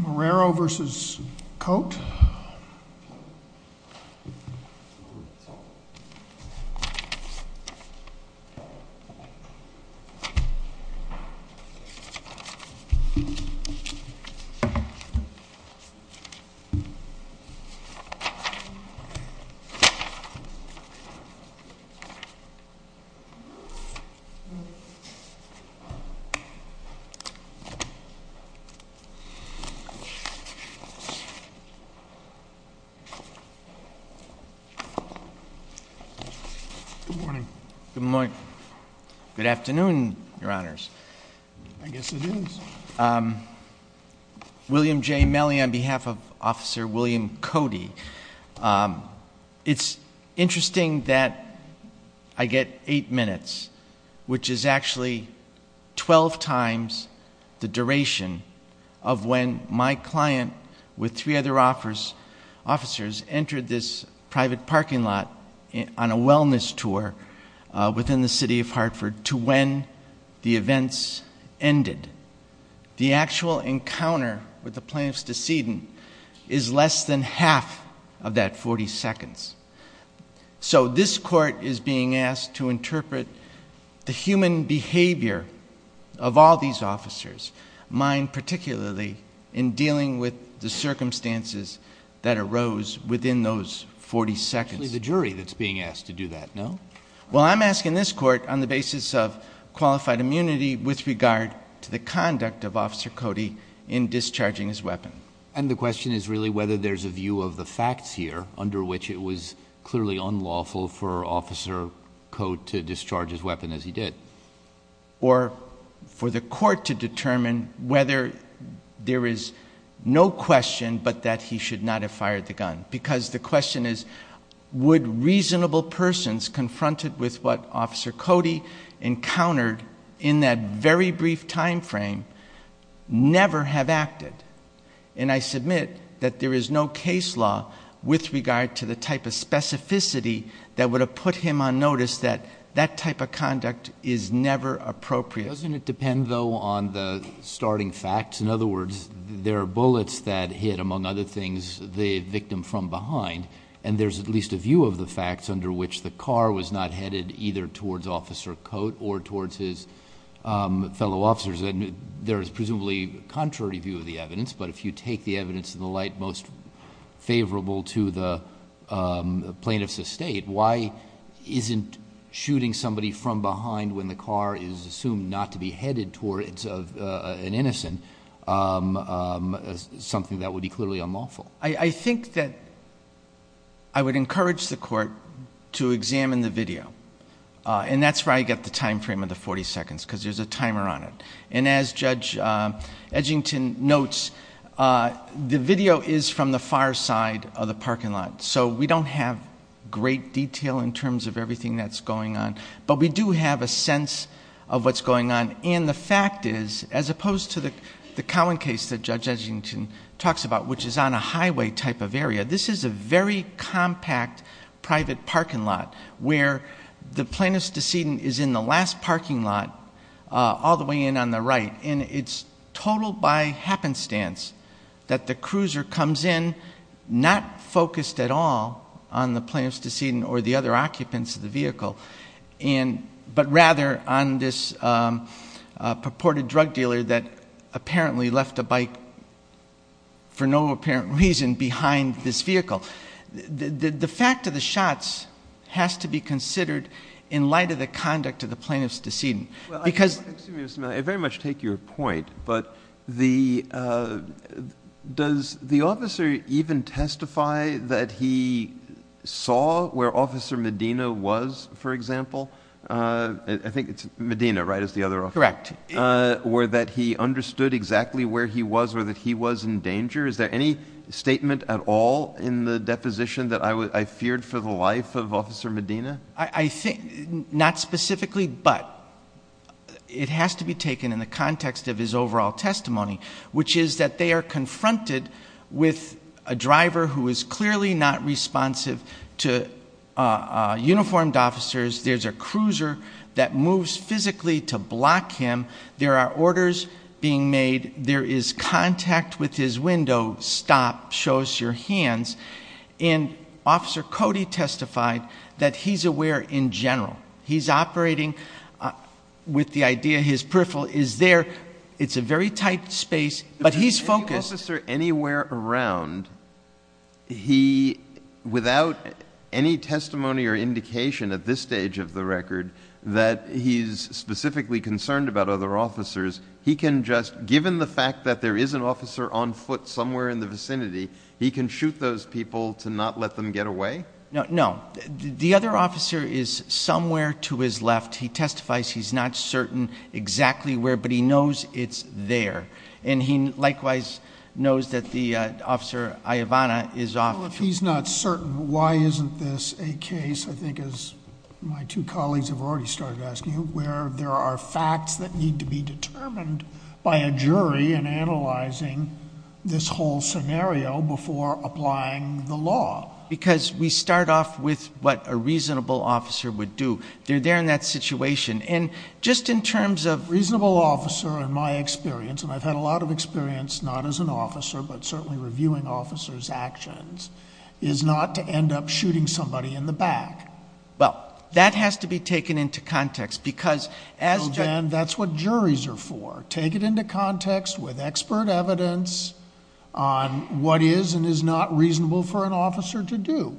Marrero v. Coate Good morning. Good morning. Good afternoon, Your Honors. I guess it is. William J. Mellie on behalf of Officer William Coate. It's interesting that I get eight minutes, which is actually 12 times the duration of when my client with three other officers entered this private parking lot on a wellness tour within the City of Hartford to when the events ended. The actual encounter with the plaintiff's decedent is less than half of that 40 seconds. So, this Court is being asked to interpret the human behavior of all these officers, mine particularly, in dealing with the circumstances that arose within those 40 seconds. It's actually the jury that's being asked to do that, no? Well, I'm asking this Court on the basis of qualified immunity with regard to the conduct of Officer Coate in discharging his weapon. And the question is really whether there's a view of the facts here under which it was clearly unlawful for Officer Coate to discharge his weapon as he did. Or for the Court to determine whether there is no question but that he should not have fired the gun. Because the question is, would reasonable persons confronted with what Officer Coate did in a safe time frame never have acted? And I submit that there is no case law with regard to the type of specificity that would have put him on notice that that type of conduct is never appropriate. Doesn't it depend though on the starting facts? In other words, there are bullets that hit, among other things, the victim from behind. And there's at least a view of the facts under which the car was not headed either towards Officer Coate or towards his fellow officers. There is presumably a contrary view of the evidence, but if you take the evidence in the light most favorable to the plaintiff's estate, why isn't shooting somebody from behind when the car is assumed not to be headed towards an innocent something that would be clearly unlawful? I think that I would encourage the Court to examine the video. And that's where I get the time frame of the 40 seconds because there's a timer on it. And as Judge Edgington notes, the video is from the far side of the parking lot. So we don't have great detail in terms of everything that's going on. But we do have a sense of what's going on. And the fact is, as opposed to the Cowan case that Judge Edgington talks about, which is on a highway type of area, this is a very compact private parking lot where the plaintiff's decedent is in the last parking lot all the way in on the right. And it's total by happenstance that the cruiser comes in not focused at all on the plaintiff's decedent or the other occupants of the vehicle, but rather on this purported drug dealer that apparently left a bike for no apparent reason behind this vehicle. The fact of the shots has to be considered in light of the conduct of the plaintiff's decedent. Well, excuse me, Mr. Miller. I very much take your point. But does the officer even testify that he saw where Officer Medina was, for example? I think it's Medina, right, is the other officer? Correct. Or that he understood exactly where he was or that he was in danger? Is there any statement at all in the deposition that I feared for the life of Officer Medina? Not specifically, but it has to be taken in the context of his overall testimony, which is that they are confronted with a driver who is clearly not responsive to uniformed officers. There's a cruiser that moves physically to block him. There are orders being made. There is contact with his window, stop, show us your hands. And Officer Cody testified that he's aware in general. He's operating with the idea his peripheral is there. It's a very tight space, but he's focused. If there's any officer anywhere around, without any testimony or indication at this stage of the record that he's specifically concerned about other officers, he can just, given the fact that there is an officer on foot somewhere in the vicinity, he can shoot those people to not let them get away? No. The other officer is somewhere to his left. He testifies he's not certain exactly where, but he knows it's there. And he likewise knows that the officer, Iovana, is off. Well, if he's not certain, why isn't this a case, I think as my two colleagues have already started asking, where there are facts that need to be determined by a jury in analyzing this whole scenario before applying the law? Because we start off with what a reasonable officer would do. They're there in that situation. Just in terms of... A reasonable officer, in my experience, and I've had a lot of experience not as an officer, but certainly reviewing officers' actions, is not to end up shooting somebody in the back. Well, that has to be taken into context, because as... Well, then, that's what juries are for. Take it into context with expert evidence on what is and is not reasonable for an officer to do.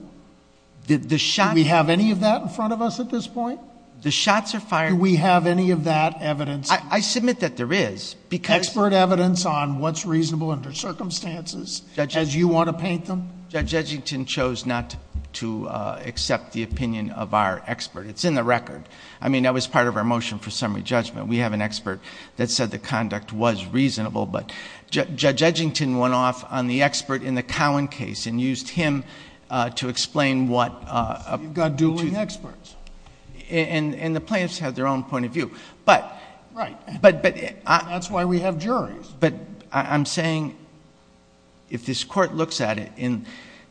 The shot... Do we have any of that in front of us at this point? The shots are fired... Do we have any of that evidence? I submit that there is, because... Expert evidence on what's reasonable under circumstances, as you want to paint them? Judge Edgington chose not to accept the opinion of our expert. It's in the record. I mean, that was part of our motion for summary judgment. We have an expert that said the conduct was reasonable, but Judge Edgington went off on the expert in the Cowan case and used him to explain what... So, you've got dueling experts? And the plaintiffs have their own point of view, but... Right. But... That's why we have juries. But I'm saying, if this Court looks at it,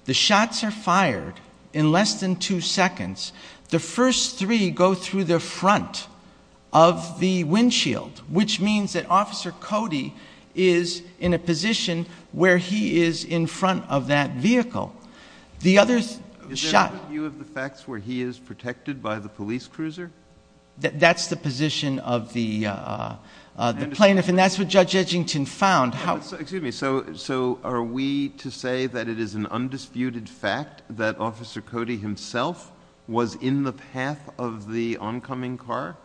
the shots are fired in less than two seconds. The first three go through the front of the windshield, which means that Officer Cody is in a position where he is in front of that vehicle. The other shot... Is there a view of the facts where he is protected by the police cruiser? That's the position of the plaintiff, and that's what Judge Edgington found. Excuse me. So, are we to say that it is an undisputed fact that Officer Cody himself was in the path of the oncoming car?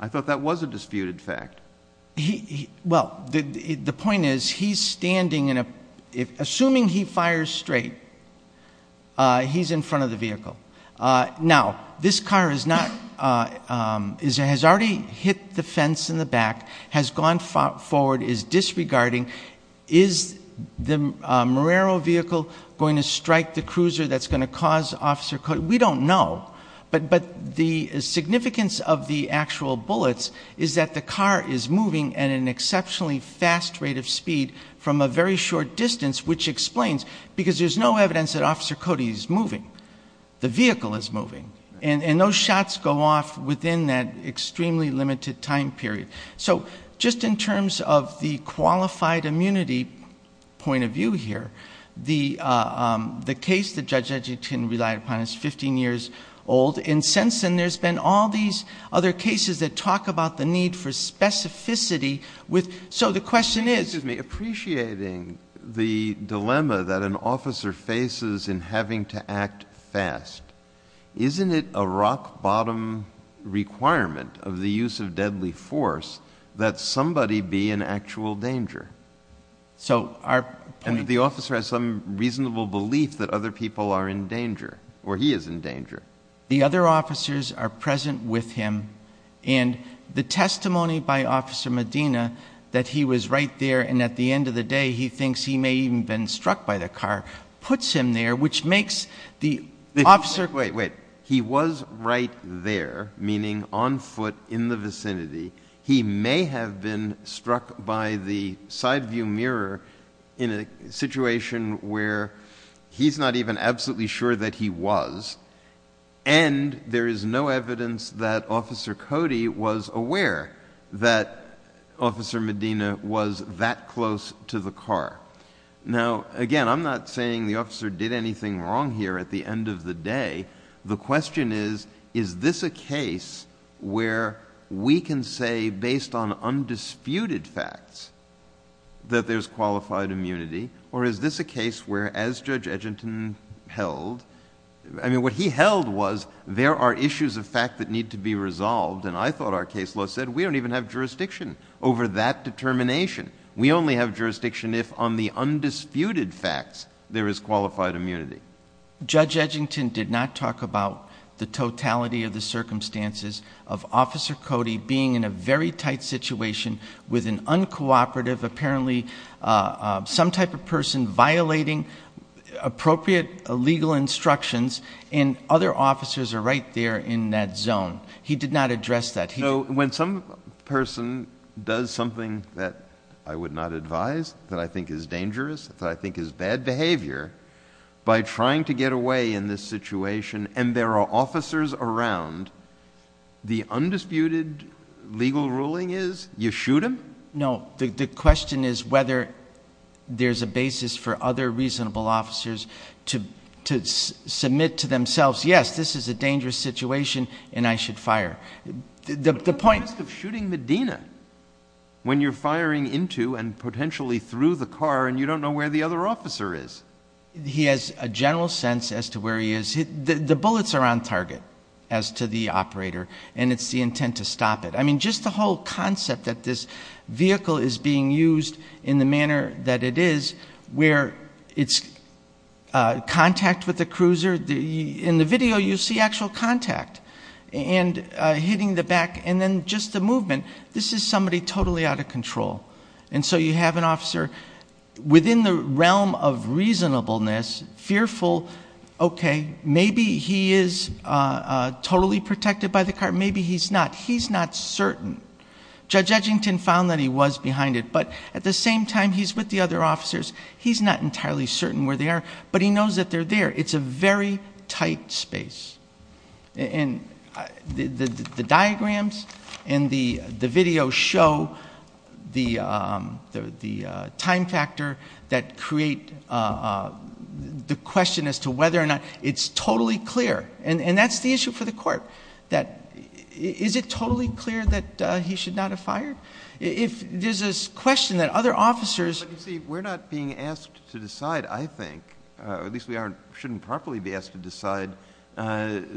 I thought that was a disputed fact. Well, the point is, he's standing... Assuming he fires straight, he's in front of the vehicle. Now, this car has already hit the fence in the back, has gone forward, is disregarding. Is the Marrero vehicle going to strike the cruiser that's going to cause Officer Cody? We don't know, but the significance of the actual bullets is that the car is moving at an exceptionally fast rate of speed from a very short distance, which explains... because there's no evidence that Officer Cody is moving. The vehicle is moving, and those shots go off within that extremely limited time period. So, just in terms of the qualified immunity point of view here, the case that Judge Edgington relied upon is fifteen years old. In Sensen, there's been all these other cases that talk about the need for specificity. So, the question is... Excuse me. Appreciating the dilemma that an officer faces in having to act fast, isn't it a rock-bottom requirement of the use of deadly force that somebody be in actual danger? So, our point... The officer has some reasonable belief that other people are in danger, or he is in danger. The other officers are present with him, and the testimony by Officer Medina that he was right there, and at the end of the day, he thinks he may even have been struck by the car, puts him there, which makes the officer... Wait, wait. He was right there, meaning on foot in the vicinity. He may have been struck by the side-view mirror in a situation where he's not even absolutely sure that he was, and there is no evidence that Officer Cody was aware that Officer Medina was that close to the car. Now, again, I'm not saying the officer did anything wrong here at the end of the day. The question is, is this a case where we can say, based on undisputed facts, that there's qualified immunity, or is this a case where, as Judge Edginton held... I mean, what he held was, there are issues of fact that need to be resolved, and I thought our case law said we don't even have jurisdiction over that determination. We only have jurisdiction if, on the undisputed facts, there is qualified immunity. Judge Edginton did not talk about the totality of the circumstances of Officer Cody being in a very tight situation with an uncooperative, apparently some type of person, violating appropriate legal instructions, and other officers are right there in that zone. He did not address that. No. When some person does something that I would not advise, that I think is dangerous, that I think is bad behavior, by trying to get away in this situation, and there are officers around, the undisputed legal ruling is, you shoot him? No. The question is whether there's a basis for other reasonable officers to submit to themselves, yes, this is a dangerous situation, and I should fire. The point... What's the risk of shooting Medina when you're firing into and potentially through the car, and you don't know where the other officer is? He has a general sense as to where he is. The bullets are on target, as to the operator, and it's the intent to stop it. I mean, just the whole concept that this vehicle is being used in the manner that it is, where it's contact with the cruiser, in the video you see actual contact, and hitting the back, and then just the movement. This is somebody totally out of control. And so you have an officer within the realm of reasonableness, fearful, okay, maybe he is totally protected by the car, maybe he's not. He's not certain. Judge Edgington found that he was behind it, but at the same time, he's with the other officers, he's not entirely certain where they are, but he knows that they're there. It's a very tight space. And the diagrams and the video show the time factor that create the question as to whether or not it's totally clear. And that's the issue for the court, that is it totally clear that he should not have fired? If there's a question that other officers...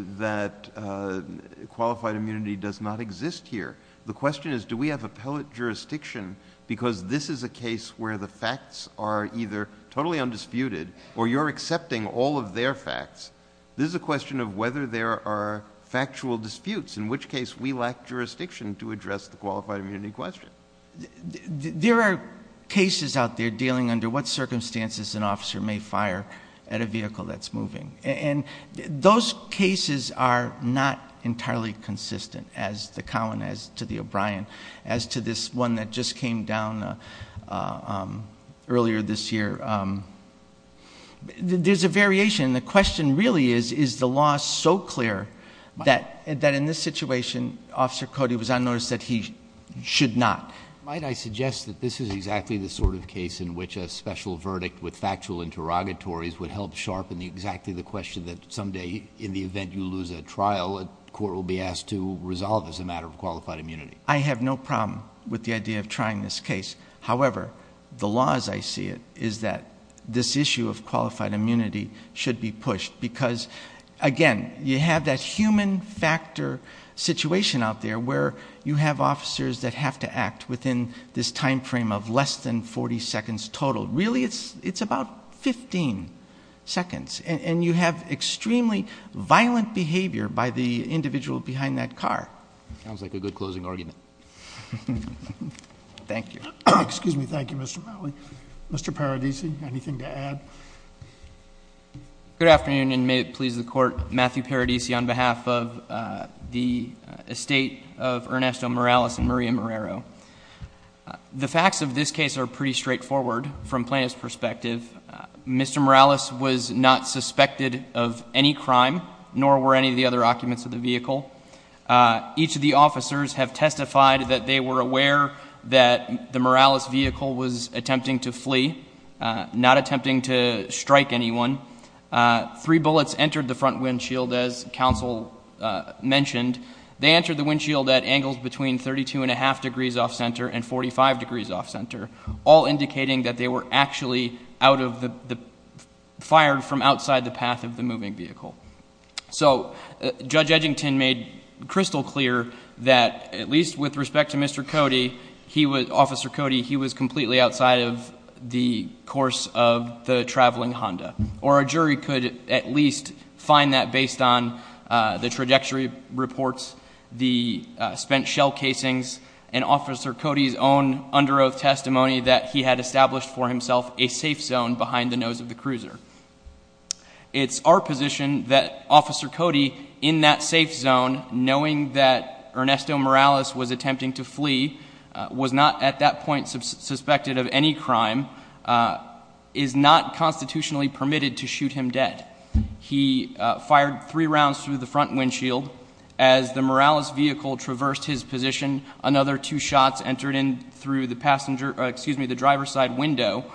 that qualified immunity does not exist here, the question is, do we have appellate jurisdiction? Because this is a case where the facts are either totally undisputed, or you're accepting all of their facts. This is a question of whether there are factual disputes, in which case we lack jurisdiction to address the qualified immunity question. There are cases out there dealing under what circumstances an officer may fire at a vehicle that's moving. And those cases are not entirely consistent, as to the Cowan, as to the O'Brien, as to this one that just came down earlier this year. There's a variation, and the question really is, is the law so clear that in this situation, Officer Cody was unnoticed that he should not? Might I suggest that this is exactly the sort of case in which a special verdict with factual interrogatories would help sharpen exactly the question that someday, in the event you lose a trial, a court will be asked to resolve as a matter of qualified immunity? I have no problem with the idea of trying this case. However, the law as I see it, is that this issue of qualified immunity should be pushed. Because, again, you have that human factor situation out there, where you have officers that have to act within this time frame of less than 40 seconds total. Really, it's about 15 seconds. And you have extremely violent behavior by the individual behind that car. Sounds like a good closing argument. Thank you. Excuse me, thank you, Mr. Malley. Mr. Paradisi, anything to add? Good afternoon, and may it please the Court. Matthew Paradisi on behalf of the estate of Ernesto Morales and Maria Morero. The facts of this case are pretty straightforward from Plaintiff's perspective. Mr. Morales was not suspected of any crime, nor were any of the other occupants of the vehicle. Each of the officers have testified that they were aware that the Morales vehicle was attempting to flee, not attempting to strike anyone. Three bullets entered the front windshield, as counsel mentioned. They entered the windshield at angles between 32.5 degrees off center and 45 degrees off center, all indicating that they were actually fired from outside the path of the moving vehicle. So Judge Edgington made crystal clear that, at least with respect to Mr. Cody, Officer Cody, he was completely outside of the course of the traveling Honda. Or a jury could at least find that based on the trajectory reports, the spent shell casings, and Officer Cody's own under oath testimony that he had established for himself a safe zone behind the nose of the cruiser. It's our position that Officer Cody, in that safe zone, knowing that Ernesto Morales was attempting to flee, was not at that point suspected of any crime, is not constitutionally permitted to shoot him dead. He fired three rounds through the front windshield. As the Morales vehicle traversed his position, another two shots entered in through the driver's side window,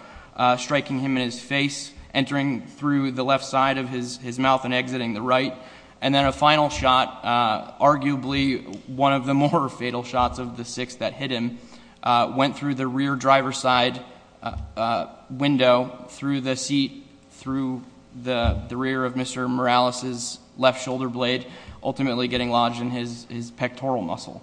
striking him in his face, entering through the left side of his mouth and exiting the right. And then a final shot, arguably one of the more fatal shots of the six that hit him, went through the rear driver's side window, through the seat, through the rear of Mr. Morales' left shoulder blade, ultimately getting lodged in his pectoral muscle.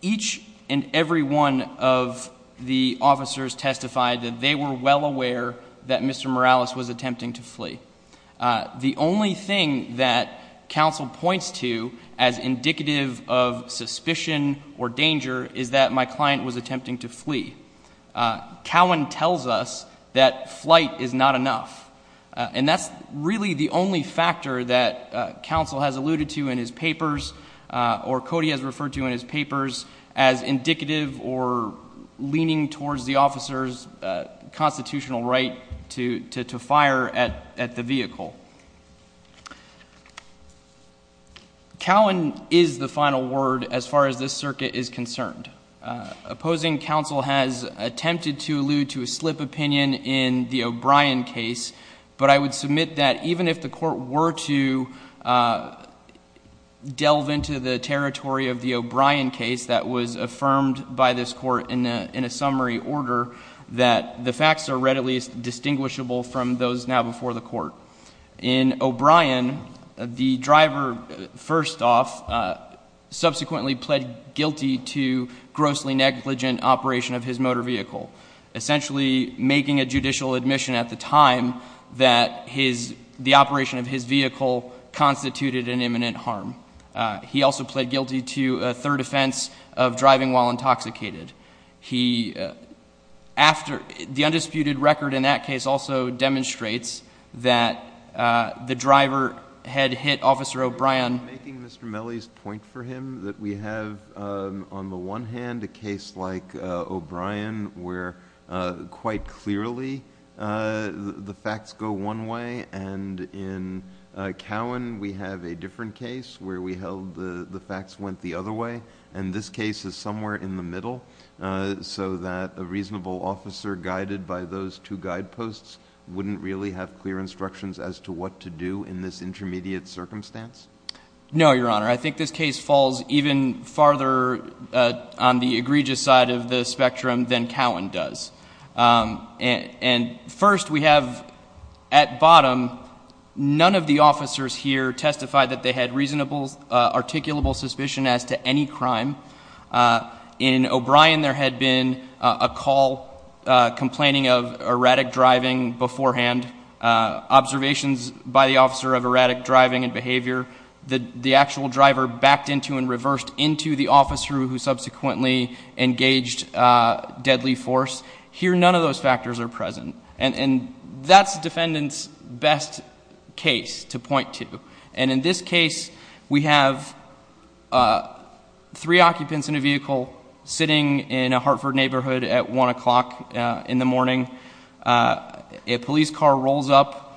Each and every one of the officers testified that they were well aware that Mr. Morales was attempting to flee. The only thing that counsel points to as indicative of suspicion or danger is that my client was attempting to flee. Cowan tells us that flight is not enough. And that's really the only factor that counsel has alluded to in his papers, or Cody has referred to in his papers, as indicative or leaning towards the officer's constitutional right to fire at the vehicle. Cowan is the final word as far as this circuit is concerned. Opposing counsel has attempted to allude to a slip opinion in the O'Brien case, but I would submit that even if the court were to delve into the territory of the O'Brien case that was affirmed by this court in a summary order, that the facts are readily distinguishable from those now before the court. In O'Brien, the driver, first off, subsequently pled guilty to grossly negligent operation of his motor vehicle, essentially making a judicial admission at the time that the operation of his vehicle constituted an imminent harm. He also pled guilty to a third offense of driving while intoxicated. The undisputed record in that case also demonstrates that the driver had hit Officer O'Brien. I'm making Mr. Melle's point for him that we have on the one hand a case like O'Brien where quite clearly the facts go one way, and in Cowan we have a different case where we held the facts went the other way, and this case is somewhere in the middle so that a reasonable officer guided by those two guideposts wouldn't really have clear instructions as to what to do in this intermediate circumstance? No, Your Honor. I think this case falls even farther on the egregious side of the spectrum than Cowan does. And first we have at bottom none of the officers here testified that they had reasonable articulable suspicion as to any crime. In O'Brien there had been a call complaining of erratic driving beforehand, observations by the officer of erratic driving and behavior that the actual driver backed into and reversed into the officer who subsequently engaged deadly force. Here none of those factors are present. And that's the defendant's best case to point to. And in this case we have three occupants in a vehicle sitting in a Hartford neighborhood at 1 o'clock in the morning. A police car rolls up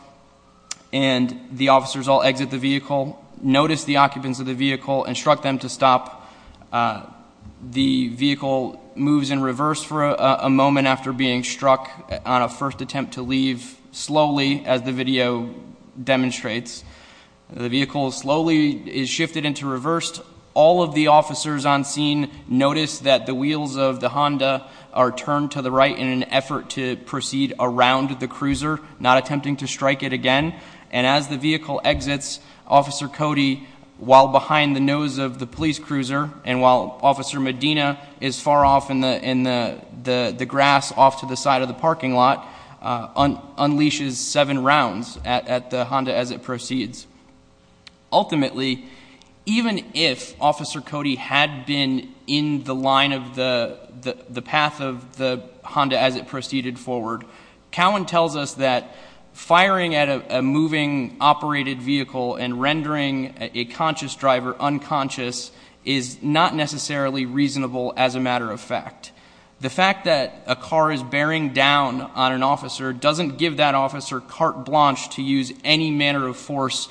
and the officers all exit the vehicle, notice the occupants of the vehicle, instruct them to stop. The vehicle moves in reverse for a moment after being struck on a first attempt to leave slowly, as the video demonstrates. The vehicle slowly is shifted into reverse. All of the officers on scene notice that the wheels of the Honda are turned to the right in an effort to proceed around the cruiser, not attempting to strike it again. And as the vehicle exits, Officer Cody, while behind the nose of the police cruiser, and while Officer Medina is far off in the grass off to the side of the parking lot, unleashes seven rounds at the Honda as it proceeds. Ultimately, even if Officer Cody had been in the line of the path of the Honda as it proceeded forward, Cowan tells us that firing at a moving, operated vehicle and rendering a conscious driver unconscious is not necessarily reasonable as a matter of fact. The fact that a car is bearing down on an officer doesn't give that officer carte blanche to use any manner of force,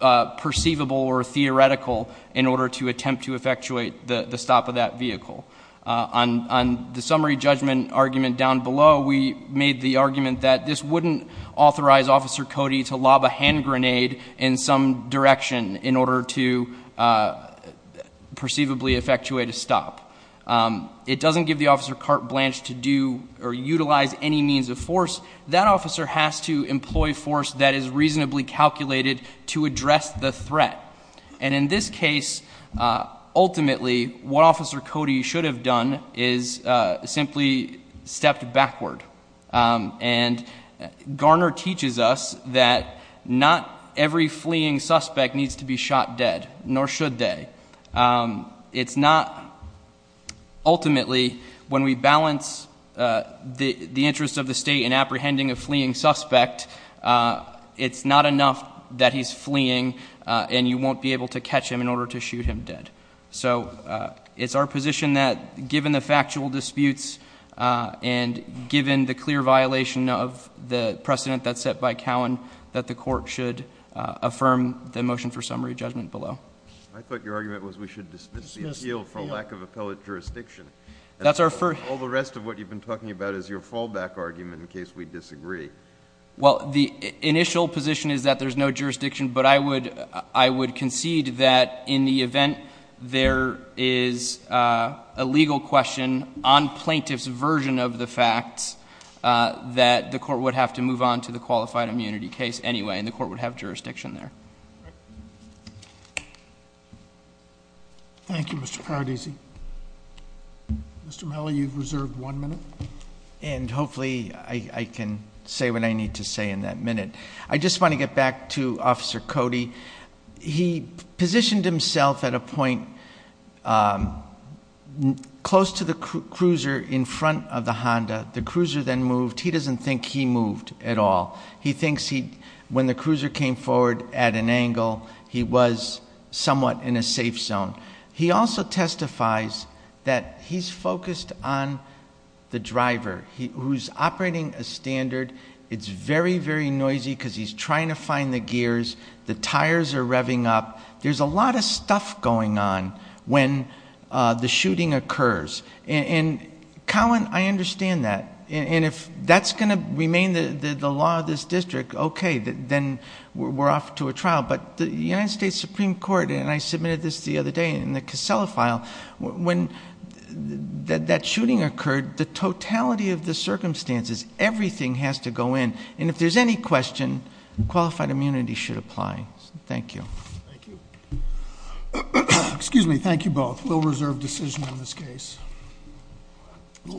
perceivable or theoretical, in order to attempt to effectuate the stop of that vehicle. On the summary judgment argument down below, we made the argument that this wouldn't authorize Officer Cody to lob a hand grenade in some direction in order to perceivably effectuate a stop. It doesn't give the officer carte blanche to do or utilize any means of force. That officer has to employ force that is reasonably calculated to address the threat. And in this case, ultimately, what Officer Cody should have done is simply stepped backward. And Garner teaches us that not every fleeing suspect needs to be shot dead, nor should they. It's not, ultimately, when we balance the interest of the state in apprehending a fleeing suspect, it's not enough that he's fleeing and you won't be able to catch him in order to shoot him dead. So it's our position that, given the factual disputes and given the clear violation of the precedent that's set by Cowan, that the court should affirm the motion for summary judgment below. I thought your argument was we should dismiss the appeal for lack of appellate jurisdiction. That's our first. All the rest of what you've been talking about is your fallback argument in case we disagree. Well, the initial position is that there's no jurisdiction, but I would concede that in the event there is a legal question on plaintiff's version of the facts, that the court would have to move on to the qualified immunity case anyway, and the court would have jurisdiction there. Thank you, Mr. Paradisi. Mr. Melle, you've reserved one minute. And hopefully I can say what I need to say in that minute. I just want to get back to Officer Cody. He positioned himself at a point close to the cruiser in front of the Honda. The cruiser then moved. He doesn't think he moved at all. He thinks when the cruiser came forward at an angle, he was somewhat in a safe zone. He also testifies that he's focused on the driver who's operating a standard. It's very, very noisy because he's trying to find the gears. The tires are revving up. There's a lot of stuff going on when the shooting occurs. And, Colin, I understand that. And if that's going to remain the law of this district, okay, then we're off to a trial. But the United States Supreme Court, and I submitted this the other day in the Casella file, when that shooting occurred, the totality of the circumstances, everything has to go in. And if there's any question, qualified immunity should apply. Thank you. Thank you. Excuse me. Thank you both. We'll reserve decision on this case.